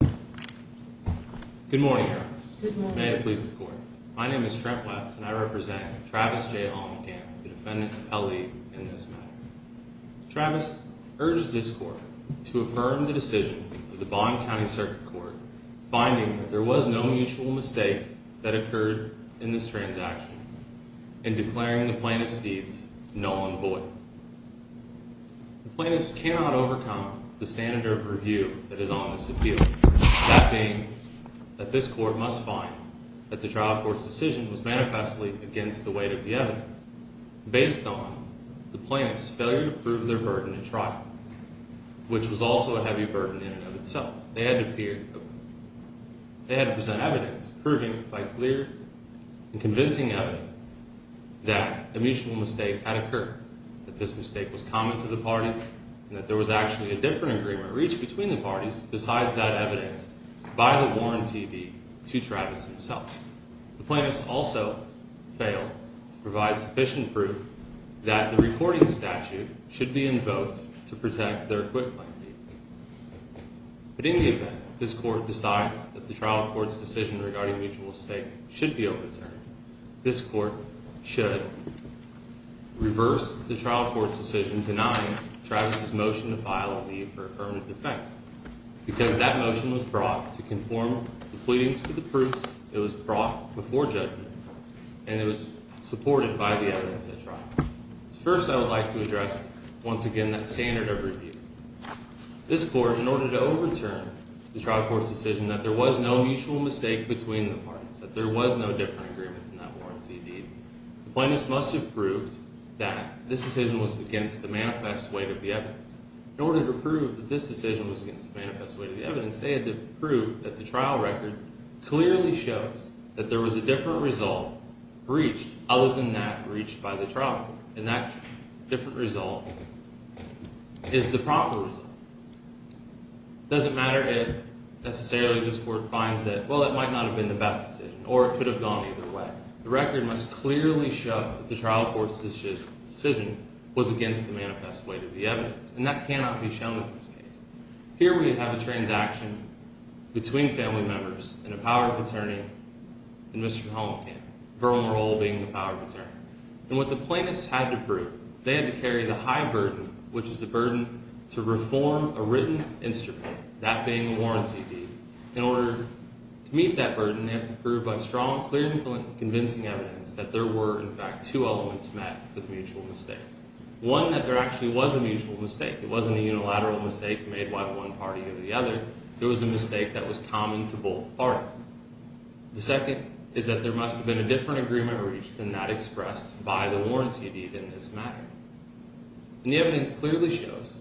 Good morning. May it please the court. My name is Trent West and I represent Travis J. Hollenkamp, the defendant of L.E. in this matter. Travis urges this court to affirm the decision of the Bond County Circuit Court finding that there was no mutual mistake that occurred in this transaction and declaring the plaintiff's deeds null and void. The plaintiff cannot overcome the standard of review that is on this appeal, that being that this court must find that the trial court's decision was manifestly against the weight of the evidence based on the plaintiff's failure to prove their burden at trial, which was also a heavy burden in and of itself. They had to present evidence proving by clear and convincing evidence that a mutual mistake had occurred, that this mistake was common to the parties, and that there was actually a different agreement reached between the parties besides that evidence by the warranty deed to Travis himself. The plaintiffs also failed to provide sufficient proof that the reporting statute should be invoked to protect their acquit claim deeds. But in the event this court decides that the trial court's decision regarding mutual mistake should be overturned, this court should reverse the trial court's decision denying Travis' motion to file a leave for affirmative defense because that motion was brought to conform the pleadings to the proofs it was brought before judgment and it was supported by the evidence at trial. First I would like to address, once again, that standard of review. This court, in order to overturn the trial court's decision that there was no mutual mistake between the parties, that there was no different agreement in that warranty deed, the plaintiffs must have proved that this decision was against the manifest weight of the evidence. In order to prove that this decision was against the manifest weight of the evidence, they had to prove that the trial record clearly shows that there was a different result reached other than that reached by the trial court. And that different result is the proper reason. It doesn't matter if necessarily this court finds that, well, it might not have been the best decision or it could have gone either way. The record must clearly show that the trial court's decision was against the manifest weight of the evidence. And that cannot be shown in this case. Here we have a transaction between family members and a power of attorney and Mr. Helmkamp. Verlin Rowell being the power of attorney. And what the plaintiffs had to prove, they had to carry the high burden, which is the burden to reform a written instrument, that being a warranty deed. In order to meet that burden, they have to prove by strong, clear, and convincing evidence that there were, in fact, two elements that met the mutual mistake. One, that there actually was a mutual mistake. It wasn't a unilateral mistake made by one party or the other. It was a mistake that was common to both parties. The second is that there must have been a different agreement reached than that expressed by the warranty deed in this matter. And the evidence clearly shows,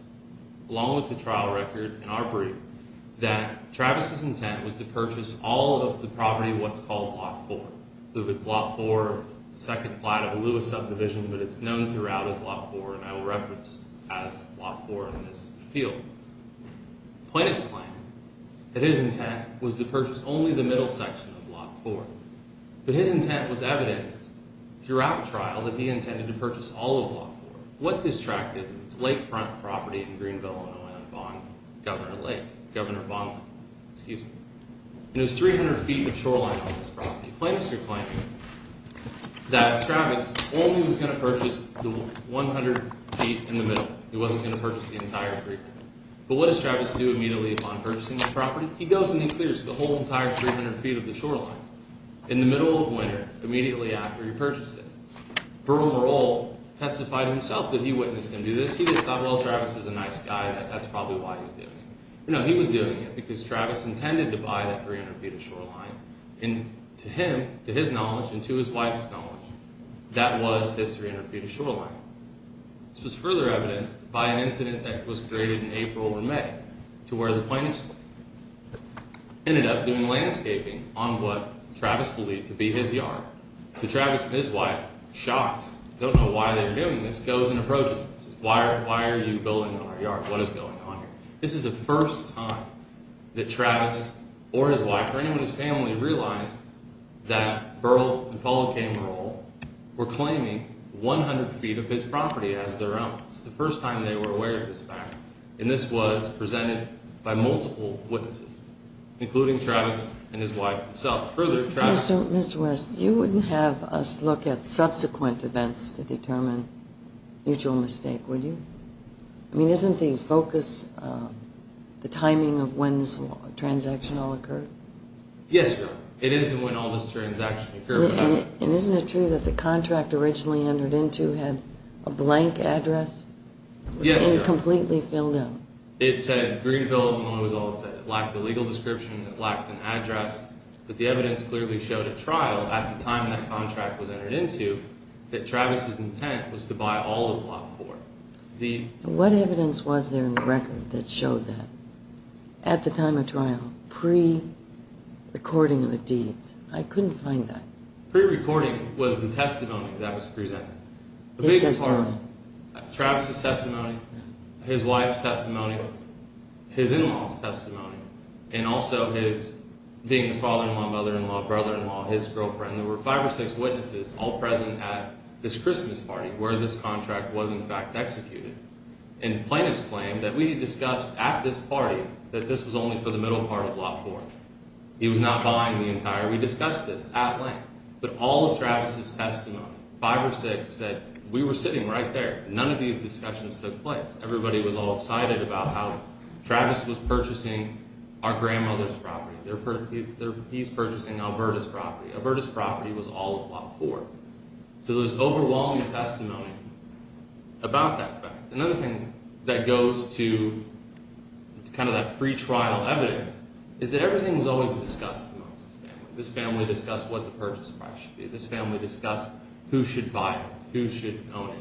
along with the trial record and our brief, that Travis's intent was to purchase all of the property of what's called Lot 4. It's Lot 4, second plot of the Lewis subdivision, but it's known throughout as Lot 4, and I will reference as Lot 4 in this appeal. Plaintiffs claim that his intent was to purchase only the middle section of Lot 4. But his intent was evidenced throughout the trial that he intended to purchase all of Lot 4. What this tract is, it's a lakefront property in Greenville, Illinois, on Governor Lake. Governor Bond, excuse me. Plaintiffs are claiming that Travis only was going to purchase the 100 feet in the middle. He wasn't going to purchase the entire 300. But what does Travis do immediately upon purchasing this property? He goes and he clears the whole entire 300 feet of the shoreline in the middle of winter, immediately after he purchased it. Burl Moral testified himself that he witnessed him do this. He just thought, well, Travis is a nice guy, that that's probably why he's doing it. No, he was doing it because Travis intended to buy that 300 feet of shoreline. And to him, to his knowledge, and to his wife's knowledge, that was 300 feet of shoreline. This was further evidenced by an incident that was created in April or May to where the plaintiffs ended up doing landscaping on what Travis believed to be his yard. So Travis and his wife, shocked, don't know why they were doing this, goes and approaches him and says, why are you building on our yard? What is going on here? This is the first time that Travis or his wife or anyone in his family realized that Burl and Paula K. Moral were claiming 100 feet of his property as their own. This is the first time they were aware of this fact. And this was presented by multiple witnesses, including Travis and his wife himself. Further, Travis— Mr. West, you wouldn't have us look at subsequent events to determine mutual mistake, would you? I mean, isn't the focus the timing of when this transaction all occurred? Yes, Your Honor. It is when all this transaction occurred. And isn't it true that the contract originally entered into had a blank address? Yes, Your Honor. It was completely filled out. It said Greenville, Illinois was all it said. It lacked a legal description. It lacked an address. But the evidence clearly showed at trial, at the time that contract was entered into, that Travis's intent was to buy all of Block 4. What evidence was there in the record that showed that at the time of trial, pre-recording of the deeds? I couldn't find that. Pre-recording was the testimony that was presented. His testimony? Travis's testimony, his wife's testimony, his in-law's testimony, and also his—being his father-in-law, mother-in-law, brother-in-law, his girlfriend. There were five or six witnesses all present at this Christmas party where this contract was, in fact, executed. And plaintiffs claimed that we discussed at this party that this was only for the middle part of Block 4. He was not buying the entire—we discussed this at length. But all of Travis's testimony, five or six, said we were sitting right there. None of these discussions took place. Everybody was all excited about how Travis was purchasing our grandmother's property. He's purchasing Alberta's property. Alberta's property was all of Block 4. So there was overwhelming testimony about that fact. Another thing that goes to kind of that pre-trial evidence is that everything was always discussed amongst this family. This family discussed what the purchase price should be. This family discussed who should buy it, who should own it,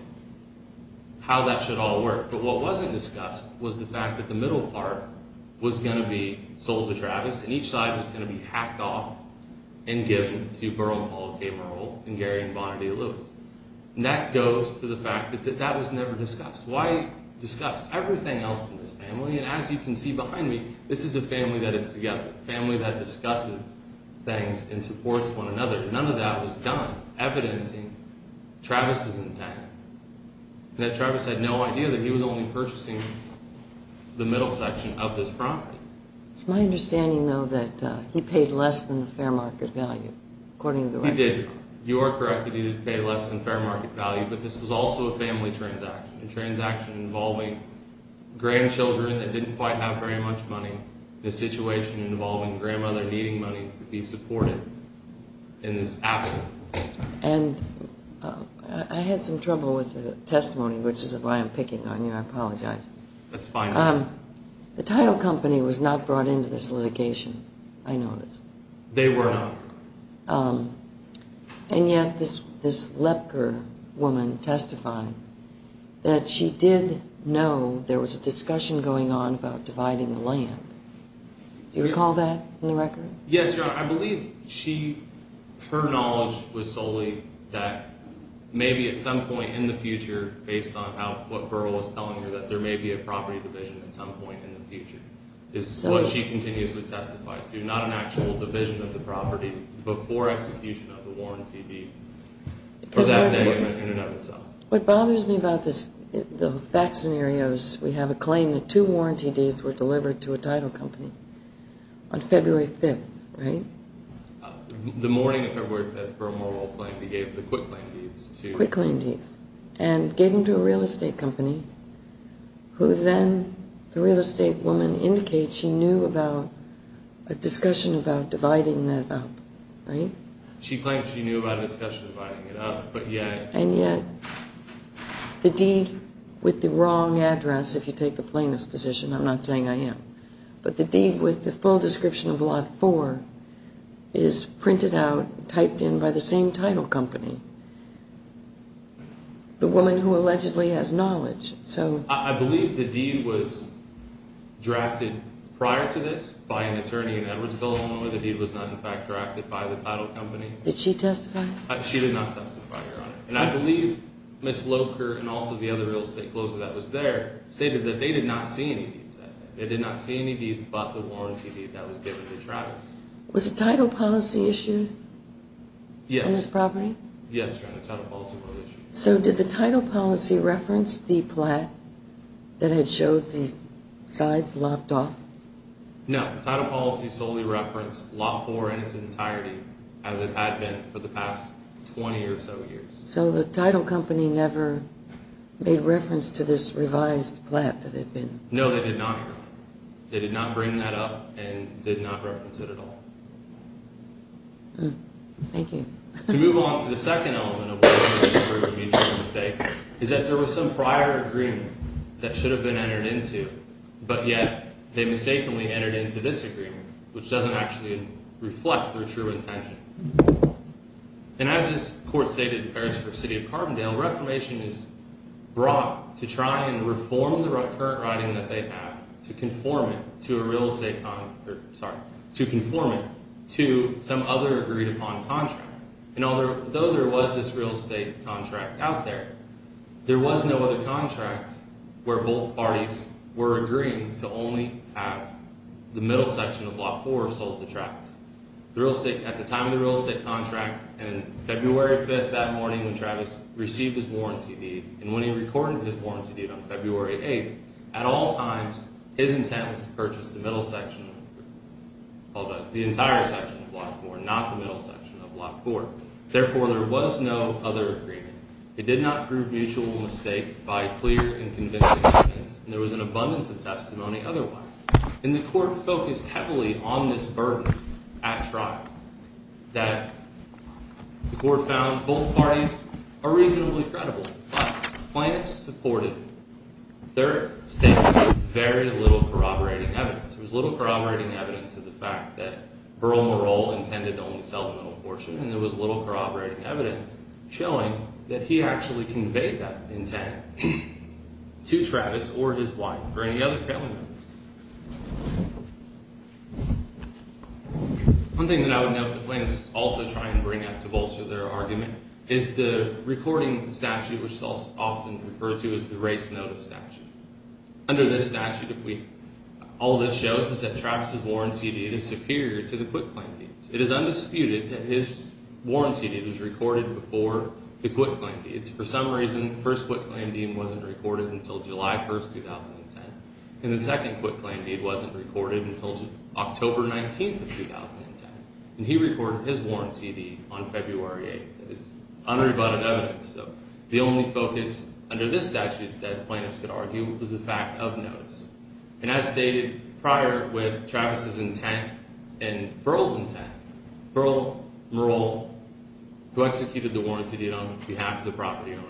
how that should all work. But what wasn't discussed was the fact that the middle part was going to be sold to Travis and each side was going to be hacked off and given to Burl and Paul K. Merle and Gary and Bonner D. Lewis. And that goes to the fact that that was never discussed. Why discuss everything else in this family? And as you can see behind me, this is a family that is together, a family that discusses things and supports one another. None of that was done, evidencing Travis's intent. And that Travis had no idea that he was only purchasing the middle section of this property. It's my understanding, though, that he paid less than the fair market value, according to the record. He did. You are correct that he did pay less than fair market value, but this was also a family transaction. A transaction involving grandchildren that didn't quite have very much money. A situation involving grandmother needing money to be supported in this affidavit. And I had some trouble with the testimony, which is why I'm picking on you. I apologize. That's fine. The title company was not brought into this litigation, I noticed. They were not. And yet this Lepker woman testified that she did know there was a discussion going on about dividing the land. Do you recall that in the record? Yes, Your Honor. I believe she, her knowledge was solely that maybe at some point in the future, based on what Burrell was telling her, that there may be a property division at some point in the future. Is what she continues to testify to. Not an actual division of the property before execution of the warranty deed. Or that in and of itself. What bothers me about the fact scenario is we have a claim that two warranty deeds were delivered to a title company on February 5th, right? The morning of February 5th, Burrell Morrell claimed he gave the quick land deeds to... Quick land deeds. And gave them to a real estate company, who then, the real estate woman indicates she knew about a discussion about dividing that up. Right? She claims she knew about a discussion about dividing it up, but yet... And yet, the deed with the wrong address, if you take the plaintiff's position, I'm not saying I am. But the deed with the full description of Lot 4 is printed out, typed in by the same title company. The woman who allegedly has knowledge, so... I believe the deed was drafted prior to this by an attorney in Edwardsville, Illinois. The deed was not in fact drafted by the title company. Did she testify? She did not testify, Your Honor. And I believe Ms. Locher and also the other real estate closer that was there stated that they did not see any deeds that day. They did not see any deeds but the warranty deed that was given to Travis. Was the title policy issued? Yes. On this property? Yes, Your Honor, the title policy was issued. So did the title policy reference the plat that had showed the sides lopped off? No, the title policy solely referenced Lot 4 in its entirety as it had been for the past 20 or so years. So the title company never made reference to this revised plat that had been... No, they did not, Your Honor. They did not bring that up and did not reference it at all. Thank you. To move on to the second element of what I believe is a proven mutual mistake is that there was some prior agreement that should have been entered into. But yet, they mistakenly entered into this agreement which doesn't actually reflect their true intention. And as this court stated in Paris v. City of Carbondale, Reformation is brought to try and reform the current writing that they have to conform it to a real estate... Sorry, to conform it to some other agreed upon contract. And although there was this real estate contract out there, there was no other contract where both parties were agreeing to only have the middle section of Lot 4 sold to Travis. At the time of the real estate contract and February 5th that morning when Travis received his warranty deed and when he recorded his warranty deed on February 8th, at all times, his intent was to purchase the middle section of Lot 4, not the middle section of Lot 4. Therefore, there was no other agreement. It did not prove mutual mistake by clear and convincing evidence. And there was an abundance of testimony otherwise. And the court focused heavily on this burden at trial that the court found both parties are reasonably credible. But the plaintiff supported their statement with very little corroborating evidence. There was little corroborating evidence of the fact that Berle-Merle intended to only sell the middle portion. And there was little corroborating evidence showing that he actually conveyed that intent to Travis or his wife or any other family members. One thing that I would note the plaintiffs also try and bring up to bolster their argument is the recording statute, which is often referred to as the race notice statute. Under this statute, all this shows is that Travis' warranty deed is superior to the quitclaim deed. It is undisputed that his warranty deed was recorded before the quitclaim deed. For some reason, the first quitclaim deed wasn't recorded until July 1st, 2010. And the second quitclaim deed wasn't recorded until October 19th of 2010. And he recorded his warranty deed on February 8th. That is unrebutted evidence, though. The only focus under this statute that plaintiffs could argue was the fact of notice. And as stated prior with Travis' intent and Berle's intent, Berle-Merle, who executed the warranty deed on behalf of the property owner,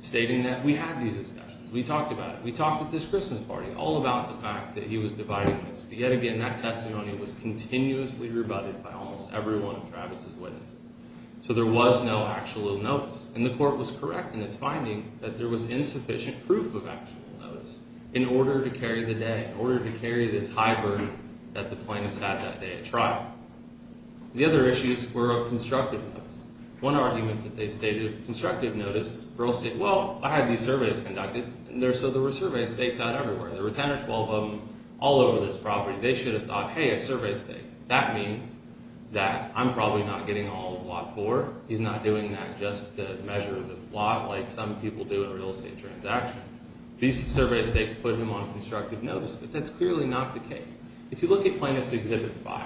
stating that we had these discussions. We talked about it. We talked at this Christmas party all about the fact that he was dividing this. But yet again, that testimony was continuously rebutted by almost every one of Travis' witnesses. So there was no actual notice. And the court was correct in its finding that there was insufficient proof of actual notice in order to carry the day, in order to carry this high burden that the plaintiffs had that day at trial. The other issues were of constructive notice. One argument that they stated, constructive notice, Berle said, well, I had these surveys conducted. So there were survey stakes out everywhere. There were 10 or 12 of them all over this property. They should have thought, hey, a survey stake. That means that I'm probably not getting all of Lot 4. He's not doing that just to measure the lot like some people do in a real estate transaction. These survey stakes put him on constructive notice. But that's clearly not the case. If you look at Plaintiff's Exhibit 5,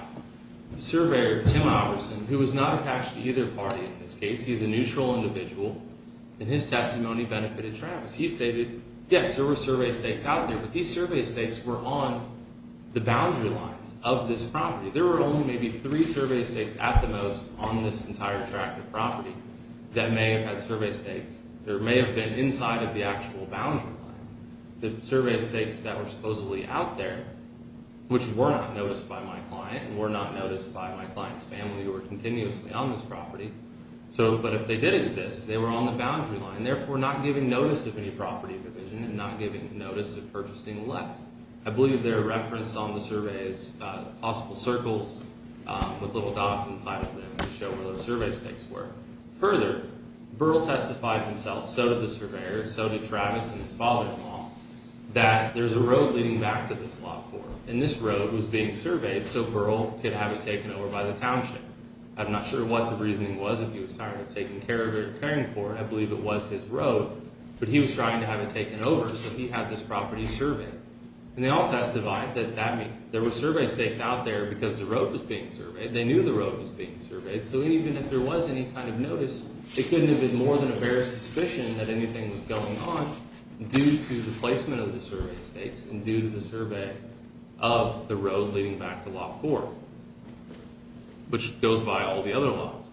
the surveyor, Tim Robertson, who was not attached to either party in this case. He's a neutral individual. And his testimony benefited Travis. He stated, yes, there were survey stakes out there. But these survey stakes were on the boundary lines of this property. There were only maybe three survey stakes at the most on this entire tract of property that may have had survey stakes or may have been inside of the actual boundary lines. The survey stakes that were supposedly out there, which were not noticed by my client and were not noticed by my client's family who were continuously on this property. But if they did exist, they were on the boundary line, therefore not giving notice of any property provision and not giving notice of purchasing less. I believe they're referenced on the survey as possible circles with little dots inside of them to show where those survey stakes were. Further, Burl testified himself, so did the surveyor, so did Travis and his father-in-law, that there's a road leading back to this lot for him. And this road was being surveyed so Burl could have it taken over by the township. I'm not sure what the reasoning was if he was tired of taking care of it or caring for it. I believe it was his road. But he was trying to have it taken over, so he had this property surveyed. And they all testified that there were survey stakes out there because the road was being surveyed. They knew the road was being surveyed. So even if there was any kind of notice, it couldn't have been more than a bare suspicion that anything was going on due to the placement of the survey stakes and due to the survey of the road leading back to Lot 4, which goes by all the other lots.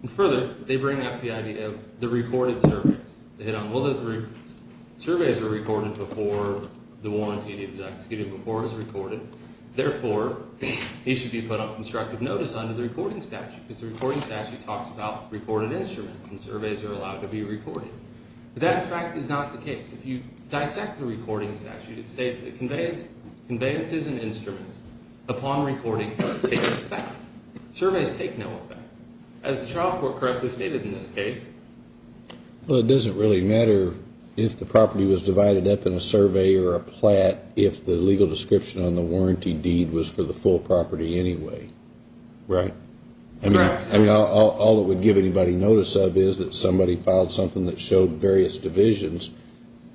And further, they bring up the idea of the recorded surveys. They hit on, well, the surveys were recorded before the warranty was executed before it was recorded. Therefore, he should be put on constructive notice under the recording statute because the recording statute talks about recorded instruments, and surveys are allowed to be recorded. But that, in fact, is not the case. If you dissect the recording statute, it states that conveyances and instruments, upon recording, take no effect. Surveys take no effect. As the trial court correctly stated in this case. Well, it doesn't really matter if the property was divided up in a survey or a plat if the legal description on the warranty deed was for the full property anyway, right? Right. I mean, all it would give anybody notice of is that somebody filed something that showed various divisions,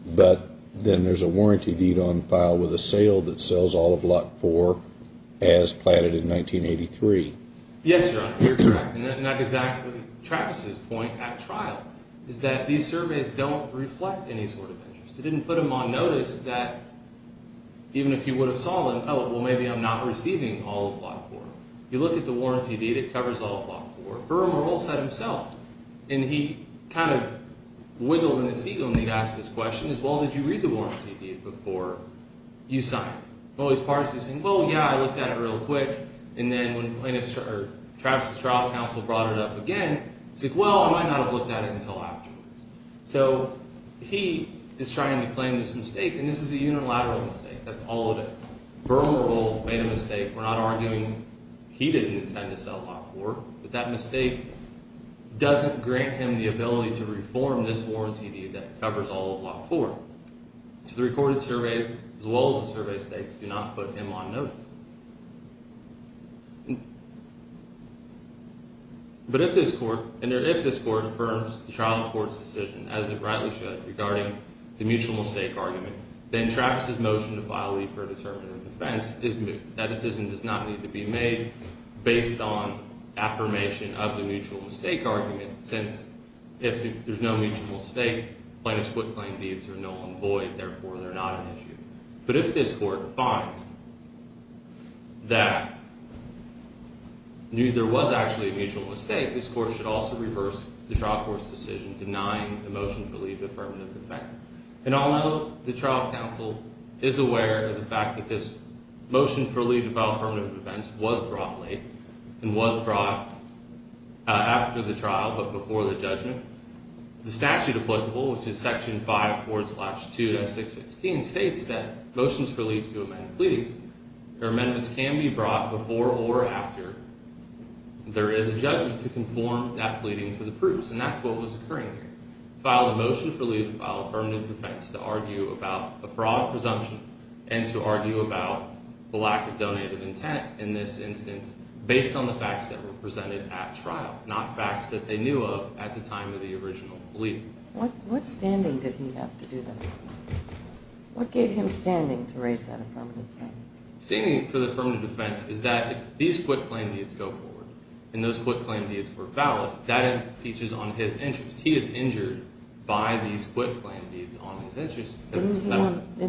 but then there's a warranty deed on file with a sale that sells all of Lot 4 as platted in 1983. Yes, Your Honor, you're correct. Not exactly. Travis's point at trial is that these surveys don't reflect any sort of interest. It didn't put him on notice that even if he would have sold them, oh, well, maybe I'm not receiving all of Lot 4. You look at the warranty deed, it covers all of Lot 4. Irma also said himself, and he kind of wiggled in his seat when he asked this question, is, well, did you read the warranty deed before you signed it? Well, his part of it is saying, well, yeah, I looked at it real quick, and then when Travis's trial counsel brought it up again, he said, well, I might not have looked at it until afterwards. So he is trying to claim this mistake, and this is a unilateral mistake. That's all it is. Vermeer made a mistake. We're not arguing he didn't intend to sell Lot 4, but that mistake doesn't grant him the ability to reform this warranty deed that covers all of Lot 4. So the recorded surveys, as well as the survey states, do not put him on notice. But if this court, and if this court affirms the trial court's decision, as it rightly should, regarding the mutual mistake argument, then Travis's motion to file leave for a determinative defense is moot. That decision does not need to be made based on affirmation of the mutual mistake argument, since if there's no mutual mistake, plaintiff's foot claim deeds are null and void. Therefore, they're not an issue. But if this court finds that there was actually a mutual mistake, this court should also reverse the trial court's decision denying the motion for leave to affirmative defense. And although the trial counsel is aware of the fact that this motion for leave to file affirmative defense was brought late and was brought after the trial, but before the judgment, the statute applicable, which is Section 5.4.2.6.16, states that motions for leave to amend pleadings, or amendments can be brought before or after there is a judgment to conform that pleading to the proofs. And that's what was occurring here. File a motion for leave to file affirmative defense to argue about a fraud presumption and to argue about the lack of donated intent in this instance based on the facts that were presented at trial, not facts that they knew of at the time of the original plea. What standing did he have to do that? What gave him standing to raise that affirmative claim? Standing for the affirmative defense is that if these foot claim deeds go forward and those foot claim deeds were valid, that impeaches on his interest. He is injured by these foot claim deeds on his interest. Didn't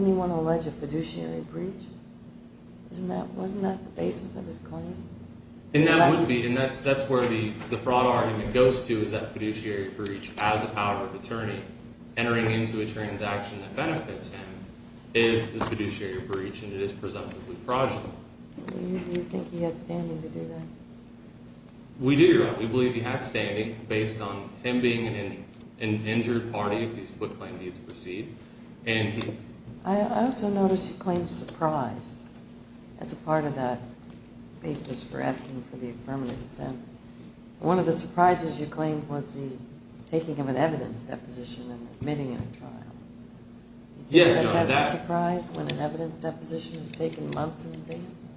he want to allege a fiduciary breach? Wasn't that the basis of his claim? And that would be, and that's where the fraud argument goes to, is that fiduciary breach as a power of attorney entering into a transaction that benefits him is the fiduciary breach, and it is presumptively fraudulent. Do you think he had standing to do that? We do. We believe he had standing based on him being an injured party if these foot claim deeds proceed. I also noticed you claimed surprise as a part of that basis for asking for the affirmative defense. One of the surprises you claimed was the taking of an evidence deposition and admitting it at trial. Yes, Your Honor. Do you think that's a surprise when an evidence deposition is taken months in advance?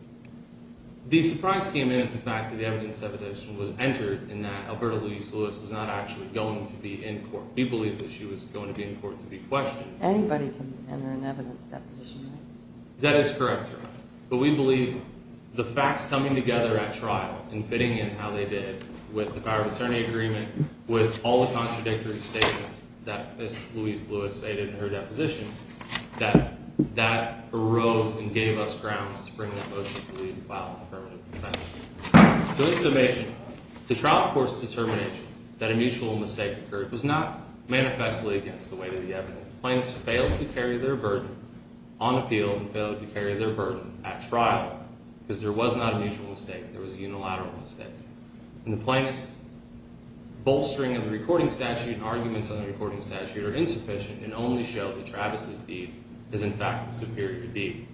The surprise came in at the fact that the evidence deposition was entered and that Alberta Louise Lewis was not actually going to be in court. We believe that she was going to be in court to be questioned. Anybody can enter an evidence deposition. That is correct, Your Honor. But we believe the facts coming together at trial and fitting in how they did with the power of attorney agreement, with all the contradictory statements that Ms. Louise Lewis stated in her deposition, that that arose and gave us grounds to bring that motion to leave and file an affirmative defense. So in summation, the trial court's determination that a mutual mistake occurred was not manifestly against the weight of the evidence. Plaintiffs failed to carry their burden on appeal and failed to carry their burden at trial because there was not a mutual mistake. There was a unilateral mistake. And the plaintiffs' bolstering of the recording statute and arguments on the recording statute are insufficient and only show that Travis's deed is, in fact, the superior deed.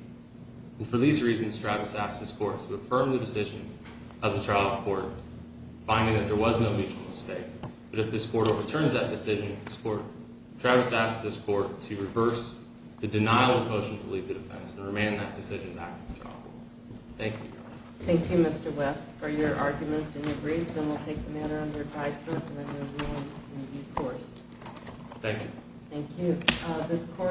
And for these reasons, Travis asked this court to affirm the decision of the trial court, finding that there was no mutual mistake. But if this court overturns that decision, Travis asked this court to reverse the denial of his motion to leave the defense and remand that decision back to the trial court. Thank you, Your Honor. Thank you, Mr. West, for your arguments and your briefs. And we'll take them in under a tied strip and a new rule in the new course. Thank you. Thank you.